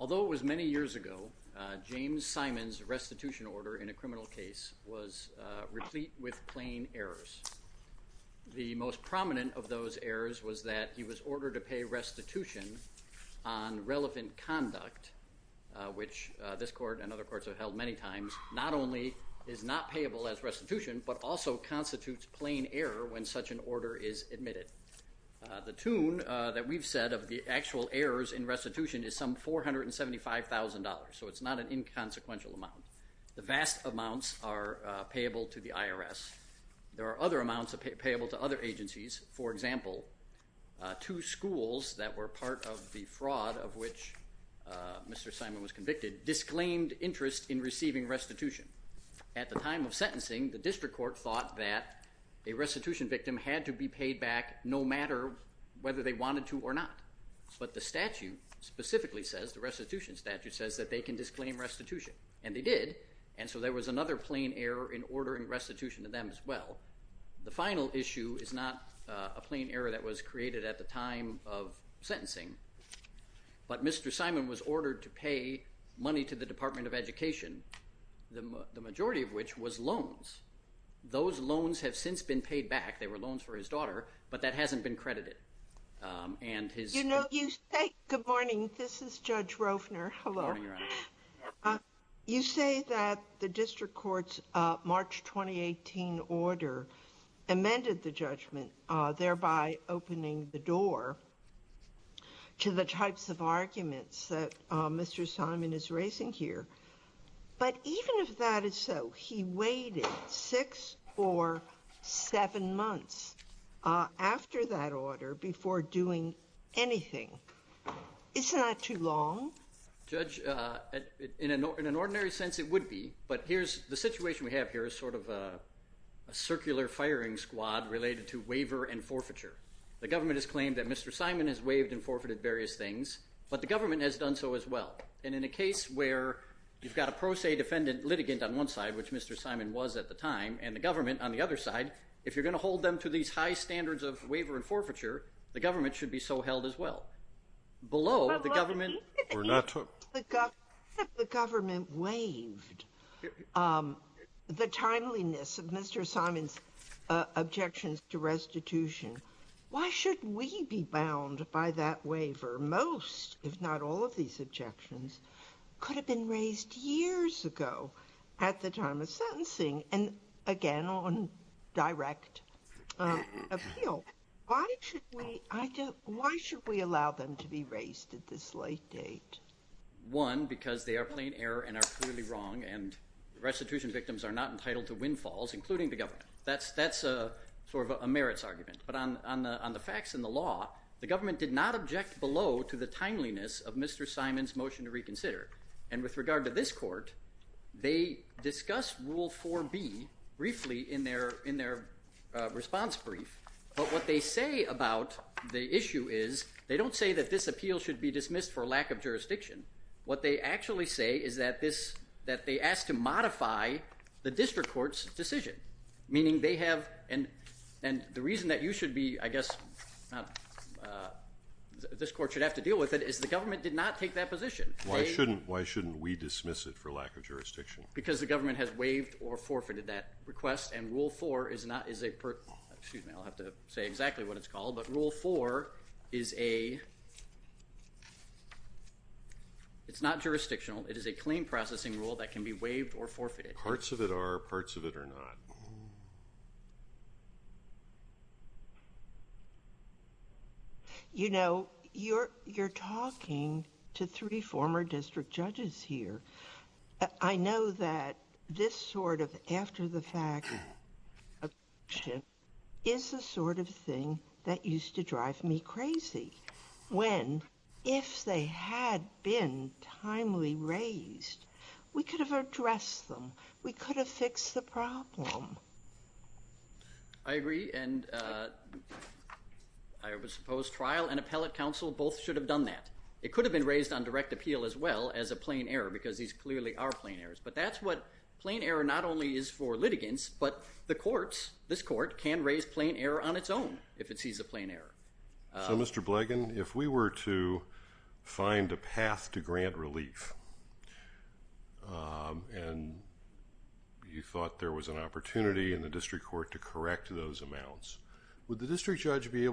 Although it was many years ago, James Simon's restitution order in a criminal case was replete with plain errors. The most prominent of those errors was that he was ordered to pay restitution on relevant conduct, which this court and other courts have held many times, not only is not payable as restitution, but also constitutes plain error when such an order is admitted. The tune that we've said of the actual errors in restitution is some $475,000, so it's not an inconsequential amount. The vast amounts are payable to the IRS. There are other amounts payable to other agencies. For example, two schools that were part of the fraud of which Mr. Simon was convicted disclaimed interest in receiving restitution. At the time of sentencing, the district court thought that a restitution victim had to be paid back no matter whether they wanted to or not. But the statute specifically says, the restitution statute says that they can disclaim restitution, and they did, and so there was another plain error in ordering restitution to them as well. The final issue is not a plain error that was created at the time of sentencing, but Mr. Simon was ordered to pay money to the Department of Education, the majority of which was loans. Those loans have since been paid back, they were loans for his daughter, but that hasn't been credited. And his- You know, you say, good morning, this is Judge Roefner, hello. Good morning, Your Honor. You say that the district court's March 2018 order amended the judgment, thereby opening the door to the types of arguments that Mr. Simon is raising here. But even if that is so, he waited six or seven months after that order before doing anything. Isn't that too long? Judge, in an ordinary sense it would be, but the situation we have here is sort of a circular firing squad related to waiver and forfeiture. The government has claimed that Mr. Simon has waived and forfeited various things, but the government has done so as well. And in a case where you've got a pro se defendant litigant on one side, which Mr. Simon was at the time, and the government on the other side, if you're going to hold them to these high standards of waiver and forfeiture, the government should be so held as well. Below the government- If the government waived the timeliness of Mr. Simon's objections to restitution, why should we be bound by that waiver? Most, if not all of these objections could have been raised years ago at the time of sentencing and again on direct appeal. Why should we allow them to be raised at this late date? One because they are plain error and are clearly wrong and restitution victims are not entitled to windfalls, including the government. That's sort of a merits argument, but on the facts and the law, the government did not object below to the timeliness of Mr. Simon's motion to reconsider. And with regard to this court, they discuss Rule 4B briefly in their response brief, but what they say about the issue is, they don't say that this appeal should be dismissed for lack of jurisdiction. What they actually say is that they asked to modify the district court's decision, meaning they have, and the reason that you should be, I guess, this court should have to deal with it, is the government did not take that position. Why shouldn't we dismiss it for lack of jurisdiction? Because the government has waived or forfeited that request and Rule 4 is not, excuse me, I'll have to say exactly what it's called, but Rule 4 is a, it's not jurisdictional, it is a claim processing rule that can be waived or forfeited. Parts of it are, parts of it are not. You know, you're talking to three former district judges here. I know that this sort of after-the-fact objection is the sort of thing that used to drive me crazy when, if they had been timely raised, we could have addressed them. We could have fixed the problem. I agree, and I would suppose trial and appellate counsel both should have done that. It could have been raised on direct appeal as well as a plain error because these clearly are plain errors, but that's what, plain error not only is for litigants, but the courts, this court, can raise plain error on its own if it sees a plain error. So, Mr. Blegin, if we were to find a path to grant relief and you thought there was an opportunity in the district court to correct those amounts, would the district judge be I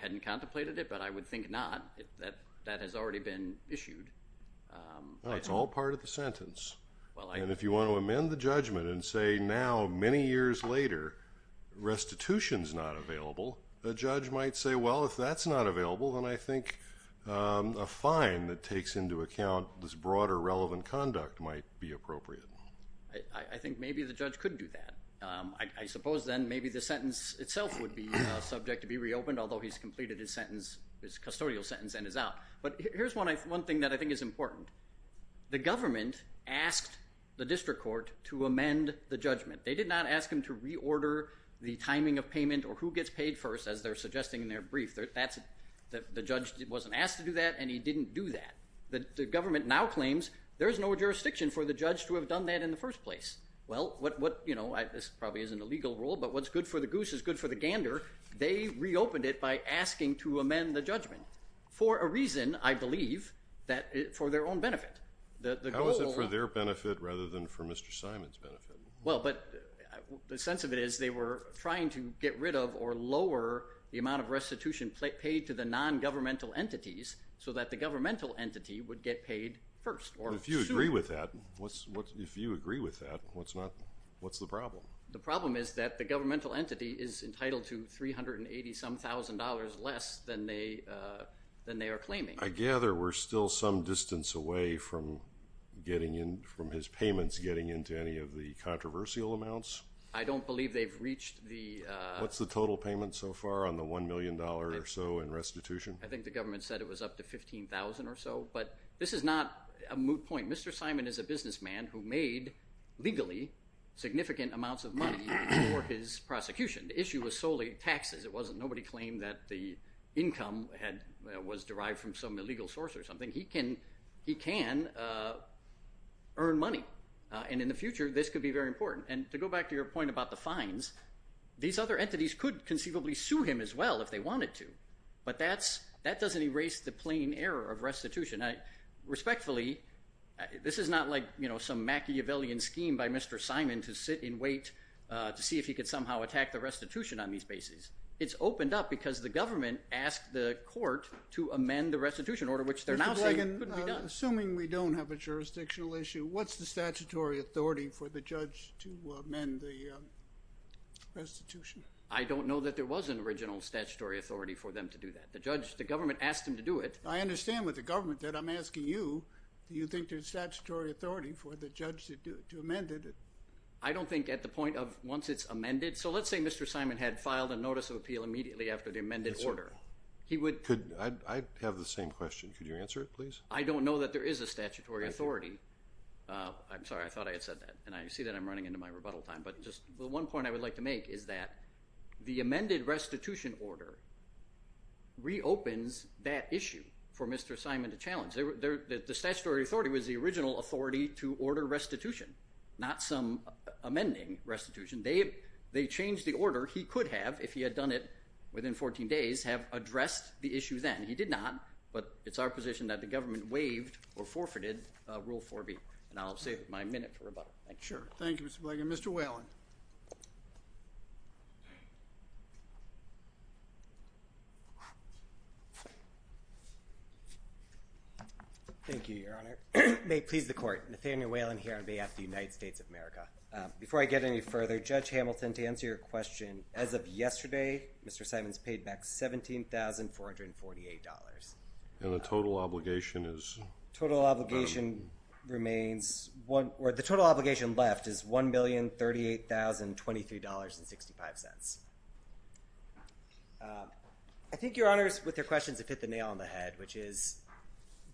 hadn't contemplated it, but I would think not if that has already been issued. Well, it's all part of the sentence, and if you want to amend the judgment and say, now, many years later, restitution's not available, the judge might say, well, if that's not available, then I think a fine that takes into account this broader relevant conduct might be appropriate. I think maybe the judge could do that. I suppose then maybe the sentence itself would be subject to be reopened, although he's completed his sentence, his custodial sentence, and is out. But here's one thing that I think is important. The government asked the district court to amend the judgment. They did not ask him to reorder the timing of payment or who gets paid first, as they're suggesting in their brief. The judge wasn't asked to do that, and he didn't do that. The government now claims there's no jurisdiction for the judge to have done that in the first place. Well, what, you know, this probably isn't a legal rule, but what's good for the goose is good for the gander. They reopened it by asking to amend the judgment for a reason, I believe, that for their own benefit. How is it for their benefit rather than for Mr. Simon's benefit? Well, but the sense of it is they were trying to get rid of or lower the amount of restitution paid to the non-governmental entities so that the governmental entity would get paid first. If you agree with that, if you agree with that, what's not, what's the problem? The problem is that the governmental entity is entitled to $380-some-thousand less than they are claiming. I gather we're still some distance away from getting in, from his payments getting into any of the controversial amounts? I don't believe they've reached the... What's the total payment so far on the $1 million or so in restitution? I think the government said it was up to $15,000 or so, but this is not a moot point. Mr. Simon is a businessman who made, legally, significant amounts of money for his prosecution. The issue was solely taxes, it wasn't, nobody claimed that the income was derived from some illegal source or something. He can earn money, and in the future this could be very important. And to go back to your point about the fines, these other entities could conceivably sue him as well if they wanted to. But that's, that doesn't erase the plain error of restitution. Respectfully, this is not like, you know, some Machiavellian scheme by Mr. Simon to sit and wait to see if he could somehow attack the restitution on these bases. It's opened up because the government asked the court to amend the restitution order, which they're now saying couldn't be done. Mr. Blagan, assuming we don't have a jurisdictional issue, what's the statutory authority for the judge to amend the restitution? I don't know that there was an original statutory authority for them to do that. The judge, the government asked him to do it. I understand with the government that I'm asking you, do you think there's statutory authority for the judge to amend it? I don't think at the point of, once it's amended, so let's say Mr. Simon had filed a notice of appeal immediately after the amended order. He would... Could, I have the same question. Could you answer it, please? I don't know that there is a statutory authority. I'm sorry, I thought I had said that, and I see that I'm running into my rebuttal time. But just the one point I would like to make is that the amended restitution order reopens that issue for Mr. Simon to challenge. The statutory authority was the original authority to order restitution, not some amending restitution. They changed the order. He could have, if he had done it within 14 days, have addressed the issue then. He did not, but it's our position that the government waived or forfeited Rule 4B. Thank you. Thank you, Mr. Blagan. Mr. Whelan. Thank you, Your Honor. May it please the Court, Nathaniel Whelan here on behalf of the United States of America. Before I get any further, Judge Hamilton, to answer your question, as of yesterday, Mr. Simon's paid back $17,448. And the total obligation is? Total obligation remains, or the total obligation left is $1,038,023.65. I think Your Honors, with your questions, it fit the nail on the head, which is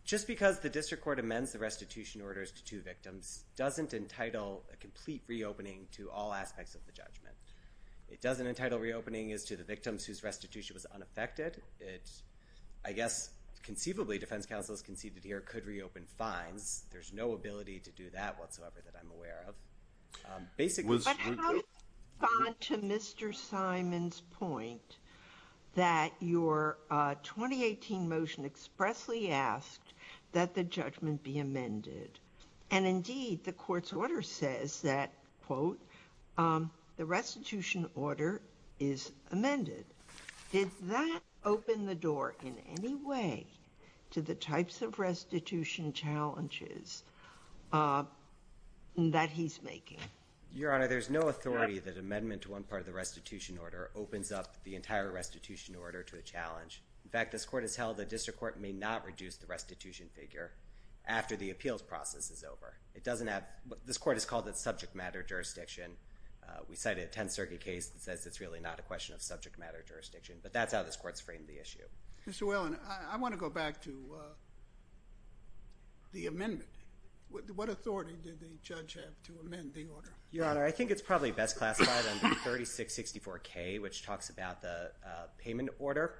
just because the District Court amends the restitution orders to two victims doesn't entitle a complete reopening to all aspects of the judgment. It doesn't entitle reopening as to the victims whose restitution was unaffected. It's, I guess, conceivably, defense counsels conceded here could reopen fines. There's no ability to do that whatsoever that I'm aware of. But how do you respond to Mr. Simon's point that your 2018 motion expressly asked that the judgment be amended? And indeed, the Court's order says that, quote, the restitution order is amended. Did that open the door in any way to the types of restitution challenges that he's making? Your Honor, there's no authority that amendment to one part of the restitution order opens up the entire restitution order to a challenge. In fact, this Court has held the District Court may not reduce the restitution figure after the appeals process is over. It doesn't have, this Court has called it subject matter jurisdiction. We cited a Tenth Circuit case that says it's really not a question of subject matter jurisdiction. But that's how this Court's framed the issue. Mr. Whelan, I want to go back to the amendment. What authority did the judge have to amend the order? Your Honor, I think it's probably best classified under 3664K, which talks about the payment order.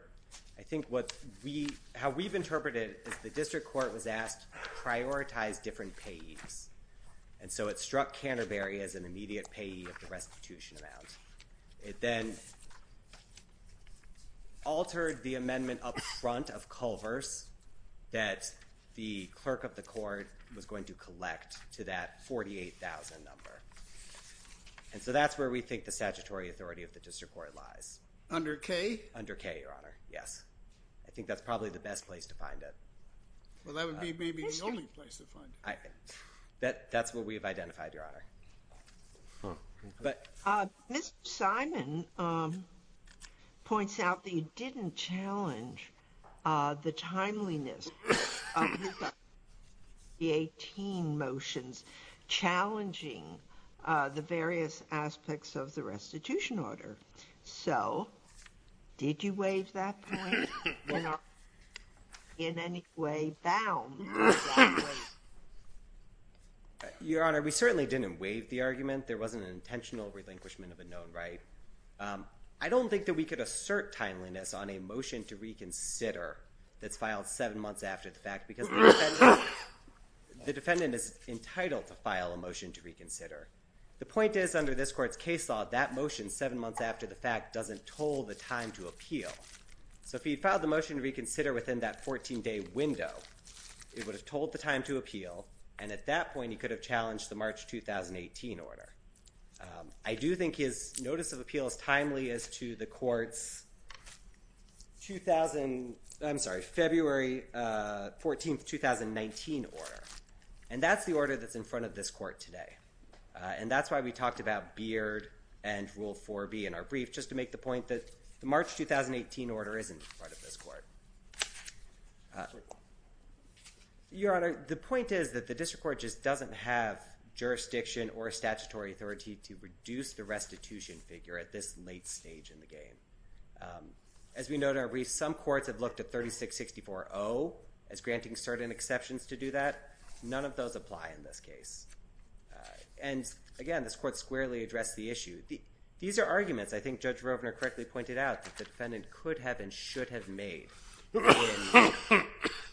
I think what we, how we've interpreted is the District Court was asked to prioritize different payees. And so it struck Canterbury as an immediate payee of the restitution amount. It then altered the amendment up front of Culver's that the clerk of the court was going to collect to that 48,000 number. And so that's where we think the statutory authority of the District Court lies. Under K? Under K, Your Honor. Yes. I think that's probably the best place to find it. Well, that would be maybe the only place to find it. That's what we've identified, Your Honor. Ms. Simon points out that you didn't challenge the timeliness of the 2018 motions challenging the various aspects of the restitution order. So, did you waive that point? You know, in any way, bound? Your Honor, we certainly didn't waive the argument. There wasn't an intentional relinquishment of a known right. I don't think that we could assert timeliness on a motion to reconsider that's filed seven months after the fact because the defendant is entitled to file a motion to reconsider. The point is, under this court's case law, that motion seven months after the fact doesn't toll the time to appeal. So if he filed the motion to reconsider within that 14-day window, it would have told the time to appeal, and at that point, he could have challenged the March 2018 order. I do think his notice of appeal is timely as to the court's February 14, 2019 order. And that's the order that's in front of this court today. And that's why we talked about Beard and Rule 4B in our brief, just to make the point that the March 2018 order isn't in front of this court. Your Honor, the point is that the district court just doesn't have jurisdiction or a statutory authority to reduce the restitution figure at this late stage in the game. As we know in our brief, some courts have looked at 36-64-0 as granting certain exceptions to do that. None of those apply in this case. And again, this court squarely addressed the issue. These are arguments, I think Judge Rovner correctly pointed out, that the defendant could have and should have made in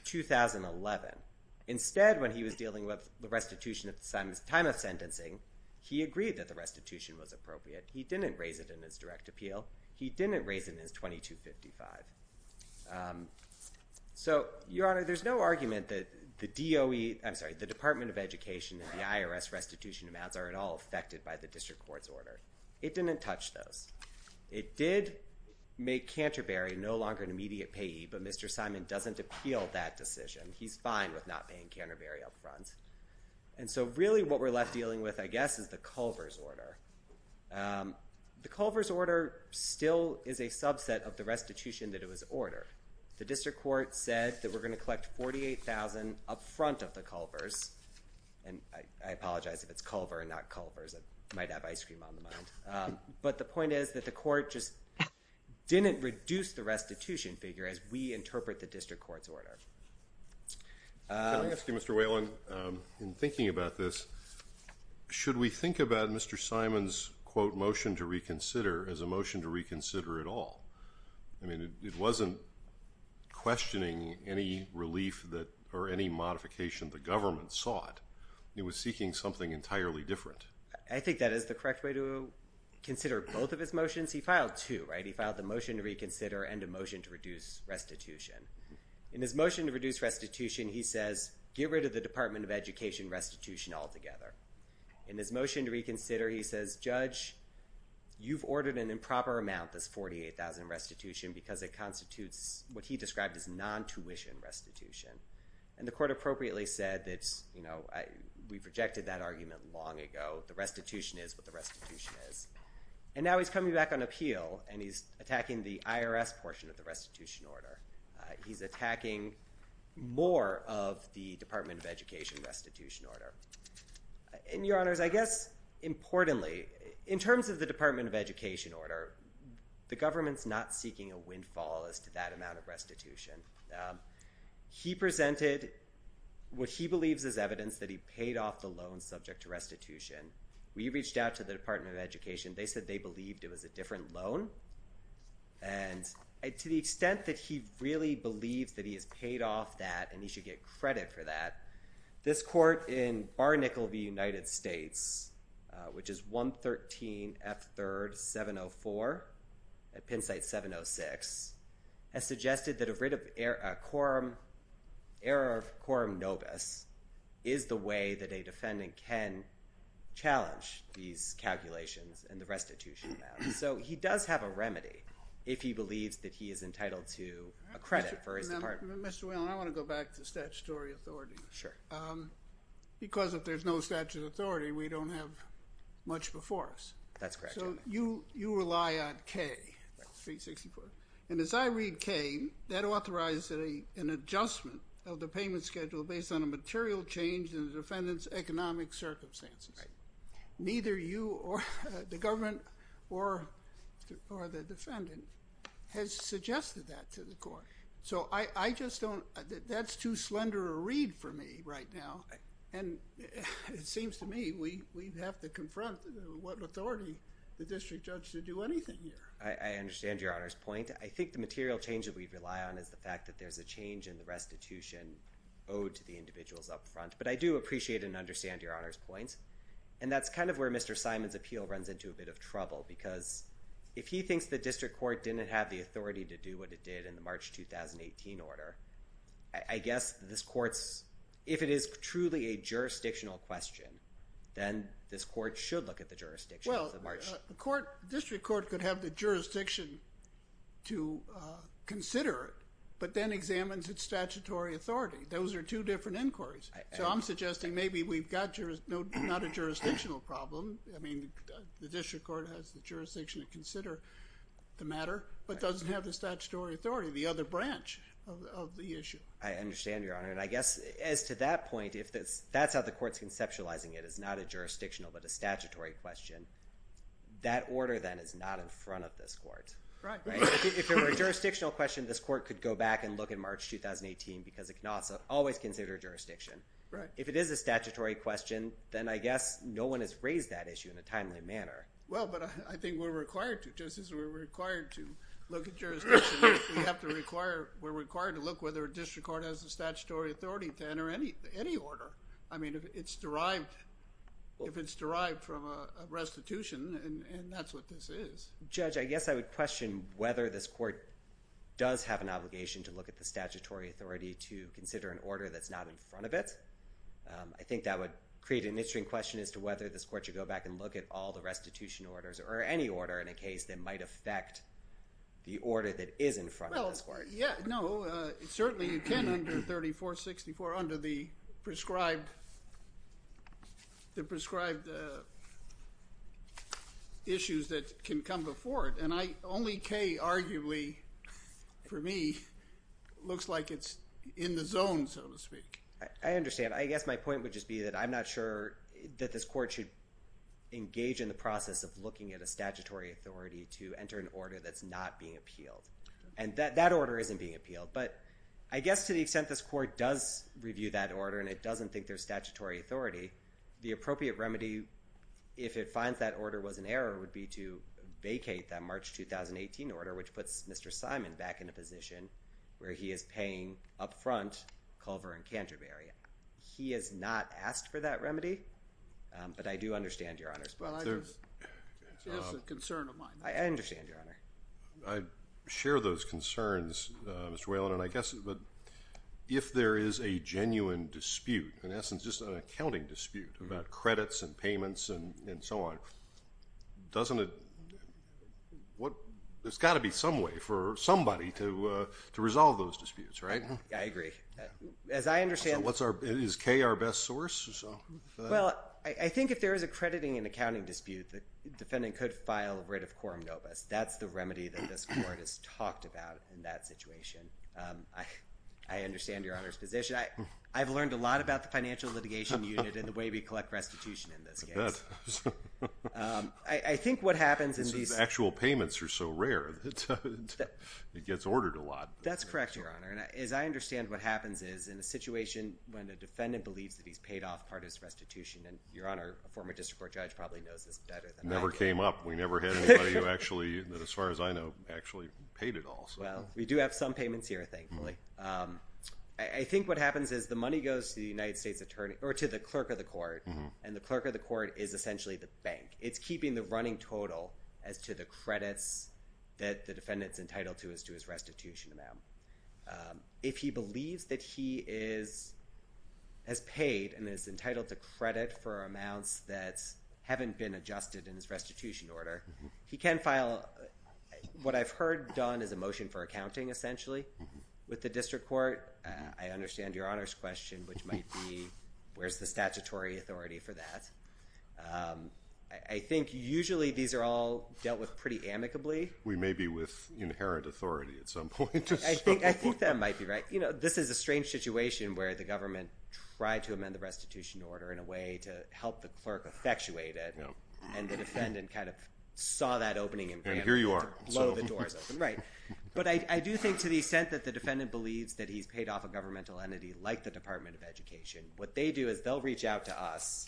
2011. Instead, when he was dealing with the restitution at the time of sentencing, he agreed that the restitution was appropriate. He didn't raise it in his direct appeal. He didn't raise it in his 2255. So, Your Honor, there's no argument that the DOE, I'm sorry, the Department of Education and the IRS restitution amounts are at all affected by the district court's order. It didn't touch those. It did make Canterbury no longer an immediate payee, but Mr. Simon doesn't appeal that decision. He's fine with not paying Canterbury up front. And so really what we're left dealing with, I guess, is the Culver's order. The Culver's order still is a subset of the restitution that it was ordered. The district court said that we're going to collect $48,000 up front of the Culver's. And I apologize if it's Culver and not Culver's. I might have ice cream on the mind. But the point is that the court just didn't reduce the restitution figure as we interpret the district court's order. Can I ask you, Mr. Whalen, in thinking about this, should we think about Mr. Simon's, quote, motion to reconsider as a motion to reconsider at all? I mean, it wasn't questioning any relief that, or any modification the government sought. It was seeking something entirely different. I think that is the correct way to consider both of his motions. He filed two, right? He filed the motion to reconsider and a motion to reduce restitution. In his motion to reduce restitution, he says, get rid of the Department of Education restitution altogether. In his motion to reconsider, he says, Judge, you've ordered an improper amount, this $48,000 restitution, because it constitutes what he described as non-tuition restitution. And the court appropriately said that, you know, we've rejected that argument long ago. The restitution is what the restitution is. And now he's coming back on appeal, and he's attacking the IRS portion of the restitution order. He's attacking more of the Department of Education restitution order. And, Your Honors, I guess, importantly, in terms of the Department of Education order, the government's not seeking a windfall as to that amount of restitution. He presented what he believes is evidence that he paid off the loan subject to restitution. We reached out to the Department of Education. They said they believed it was a different loan. And to the extent that he really believes that he has paid off that and he should get credit for that, this court in Barnickel v. United States, which is 113 F. 3rd 704 at Penn State 706, has suggested that a writ of error of quorum novus is the way that a defendant can challenge these calculations and the restitution amount. So he does have a remedy if he believes that he is entitled to a credit for his department. Mr. Whalen, I want to go back to statutory authority. Sure. Because if there's no statutory authority, we don't have much before us. That's correct, Your Honor. So you rely on K, 364. And as I read K, that authorizes an adjustment of the payment schedule based on a material change in the defendant's economic circumstances. Right. Neither you or the government or the defendant has suggested that to the court. So I just don't, that's too slender a read for me right now. And it seems to me we have to confront what authority the district judge should do anything here. I understand Your Honor's point. I think the material change that we rely on is the fact that there's a change in the restitution owed to the individuals up front. But I do appreciate and understand Your Honor's point. And that's kind of where Mr. Simon's appeal runs into a bit of trouble because if he thinks the district court didn't have the authority to do what it did in the March 2018 order, I guess this court's, if it is truly a jurisdictional question, then this court should look at the jurisdiction of the March. Well, the court, the district court could have the jurisdiction to consider it, but then examines its statutory authority. Those are two different inquiries. So I'm suggesting maybe we've got not a jurisdictional problem. I mean, the district court has the jurisdiction to consider the matter, but doesn't have the statutory authority, the other branch of the issue. I understand, Your Honor. And I guess as to that point, if that's how the court's conceptualizing it, it's not a jurisdictional, but a statutory question. That order then is not in front of this court. Right. If it were a jurisdictional question, this court could go back and look at March 2018 because it cannot always consider jurisdiction. Right. If it is a statutory question, then I guess no one has raised that issue in a timely manner. Well, but I think we're required to. Just as we're required to look at jurisdiction, we have to require, we're required to look whether a district court has the statutory authority to enter any order. I mean, if it's derived from a restitution, and that's what this is. Judge, I guess I would question whether this court does have an obligation to look at the statutory authority to consider an order that's not in front of it. I think that would create an interesting question as to whether this court should go back and look at all the restitution orders, or any order in a case that might affect the order that is in front of this court. Well, yeah. No. Certainly you can under 3464, under the prescribed issues that can come before it. And only K, arguably, for me, looks like it's in the zone, so to speak. I understand. I guess my point would just be that I'm not sure that this court should engage in the process of looking at a statutory authority to enter an order that's not being appealed. And that order isn't being appealed. But I guess to the extent this court does review that order, and it doesn't think there's statutory authority, the appropriate remedy, if it finds that order was in error, would be to vacate that March 2018 order, which puts Mr. Simon back in a position where he is paying up front Culver and Canterbury. He has not asked for that remedy. But I do understand, Your Honor. It's a concern of mine. I understand, Your Honor. I share those concerns, Mr. Whalen. And I guess if there is a genuine dispute, in essence, just an accounting dispute about there's got to be some way for somebody to resolve those disputes, right? I agree. As I understand— Is K our best source? Well, I think if there is a crediting and accounting dispute, the defendant could file writ of quorum nobis. That's the remedy that this court has talked about in that situation. I understand Your Honor's position. I've learned a lot about the financial litigation unit and the way we collect restitution in this case. I think what happens is— Actual payments are so rare. It gets ordered a lot. That's correct, Your Honor. And as I understand, what happens is in a situation when the defendant believes that he's paid off part of his restitution, and Your Honor, a former district court judge probably knows this better than I do. It never came up. We never had anybody who actually, as far as I know, actually paid it all. Well, we do have some payments here, thankfully. I think what happens is the money goes to the United States attorney—or to the clerk of the court, and the clerk of the court is essentially the bank. It's keeping the running total as to the credits that the defendant's entitled to as to his restitution amount. If he believes that he has paid and is entitled to credit for amounts that haven't been adjusted in his restitution order, he can file what I've heard done as a motion for accounting, essentially, with the district court. I understand Your Honor's question, which might be, where's the statutory authority for that? I think usually these are all dealt with pretty amicably. We may be with inherent authority at some point. I think that might be right. You know, this is a strange situation where the government tried to amend the restitution order in a way to help the clerk effectuate it, and the defendant kind of saw that opening him to blow the doors open. And here you are. Right. But I do think to the extent that the defendant believes that he's paid off a governmental entity like the Department of Education, what they do is they'll reach out to us,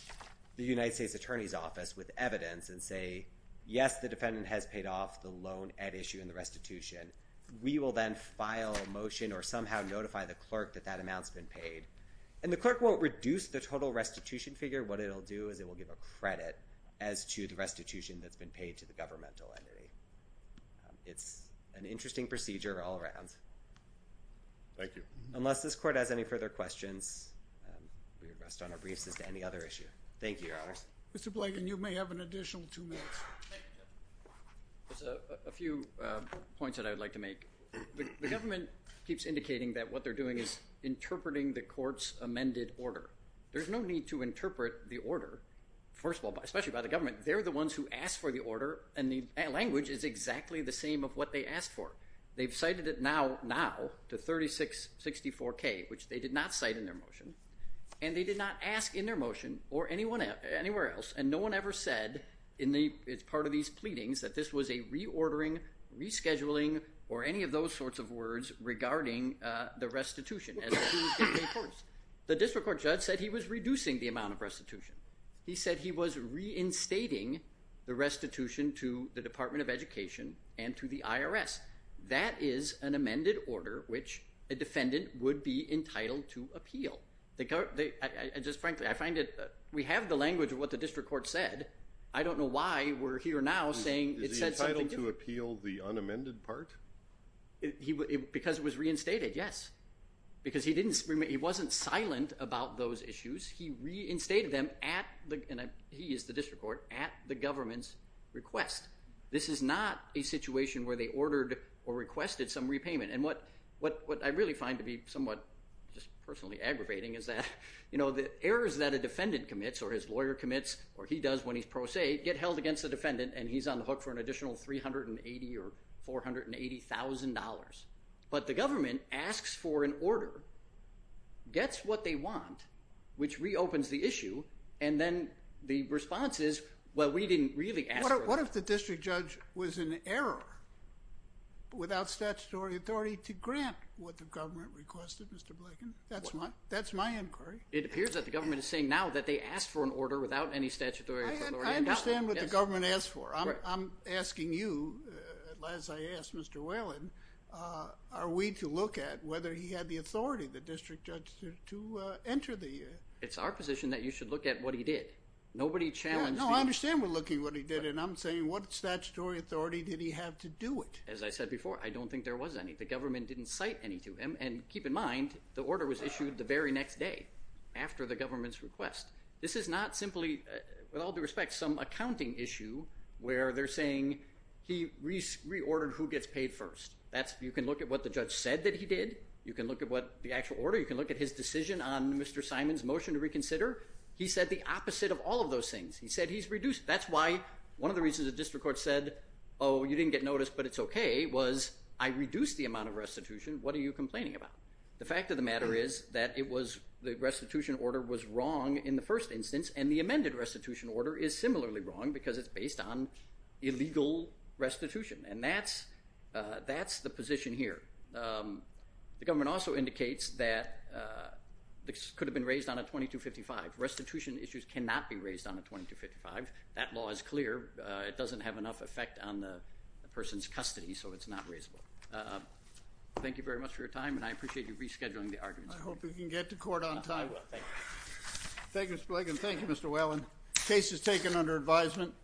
the United States Attorney's Office, with evidence and say, yes, the defendant has paid off the loan at issue in the restitution. We will then file a motion or somehow notify the clerk that that amount's been paid. And the clerk won't reduce the total restitution figure. What it'll do is it will give a credit as to the restitution that's been paid to the governmental entity. It's an interesting procedure all around. Thank you. Unless this court has any further questions, we rest on our briefs as to any other issue. Thank you, Your Honors. Mr. Blanken, you may have an additional two minutes. There's a few points that I would like to make. The government keeps indicating that what they're doing is interpreting the court's amended order. There's no need to interpret the order, first of all, especially by the government. They're the ones who asked for the order, and the language is exactly the same of what they asked for. They've cited it now to 3664K, which they did not cite in their motion, and they did not ask in their motion or anywhere else. And no one ever said in part of these pleadings that this was a reordering, rescheduling, or any of those sorts of words regarding the restitution as to who was getting paid first. The district court judge said he was reducing the amount of restitution. He said he was reinstating the restitution to the Department of Education and to the IRS. That is an amended order which a defendant would be entitled to appeal. Just frankly, we have the language of what the district court said. I don't know why we're here now saying it said something different. Is he entitled to appeal the unamended part? Because it was reinstated, yes. Because he wasn't silent about those issues. He reinstated them, and he is the district court, at the government's request. This is not a situation where they ordered or requested some repayment. And what I really find to be somewhat just personally aggravating is that the errors that a defendant commits or his lawyer commits or he does when he's pro se get held against the defendant, and he's on the hook for an additional $380,000 or $480,000. But the government asks for an order, gets what they want, which reopens the issue, and then the response is, well, we didn't really ask for it. What if the district judge was in error without statutory authority to grant what the government requested, Mr. Blanken? That's my inquiry. It appears that the government is saying now that they asked for an order without any statutory authority. I understand what the government asked for. I'm asking you, as I asked Mr. Whalen, are we to look at whether he had the authority, the district judge, to enter the... It's our position that you should look at what he did. Nobody challenged... No, I understand we're looking at what he did, and I'm saying what statutory authority did he have to do it? As I said before, I don't think there was any. The government didn't cite any to him. And keep in mind, the order was issued the very next day after the government's request. This is not simply, with all due respect, some accounting issue where they're saying he reordered who gets paid first. You can look at what the judge said that he did. You can look at the actual order. You can look at his decision on Mr. Simon's motion to reconsider. He said the opposite of all of those things. He said he's reduced... That's why one of the reasons the district court said, oh, you didn't get notice, but it's okay, was I reduced the amount of restitution. What are you complaining about? The fact of the matter is that the restitution order was wrong in the first instance, and the amended restitution order is similarly wrong because it's based on illegal restitution. And that's the position here. The government also indicates that this could have been raised on a 2255. Restitution issues cannot be raised on a 2255. That law is clear. It doesn't have enough effect on the person's custody, so it's not raisable. Thank you very much for your time, and I appreciate you rescheduling the argument. I hope we can get to court on time. I will. Thank you. Thank you, Mr. Blagan. Thank you, Mr. Whalen. Case is taken under advisement.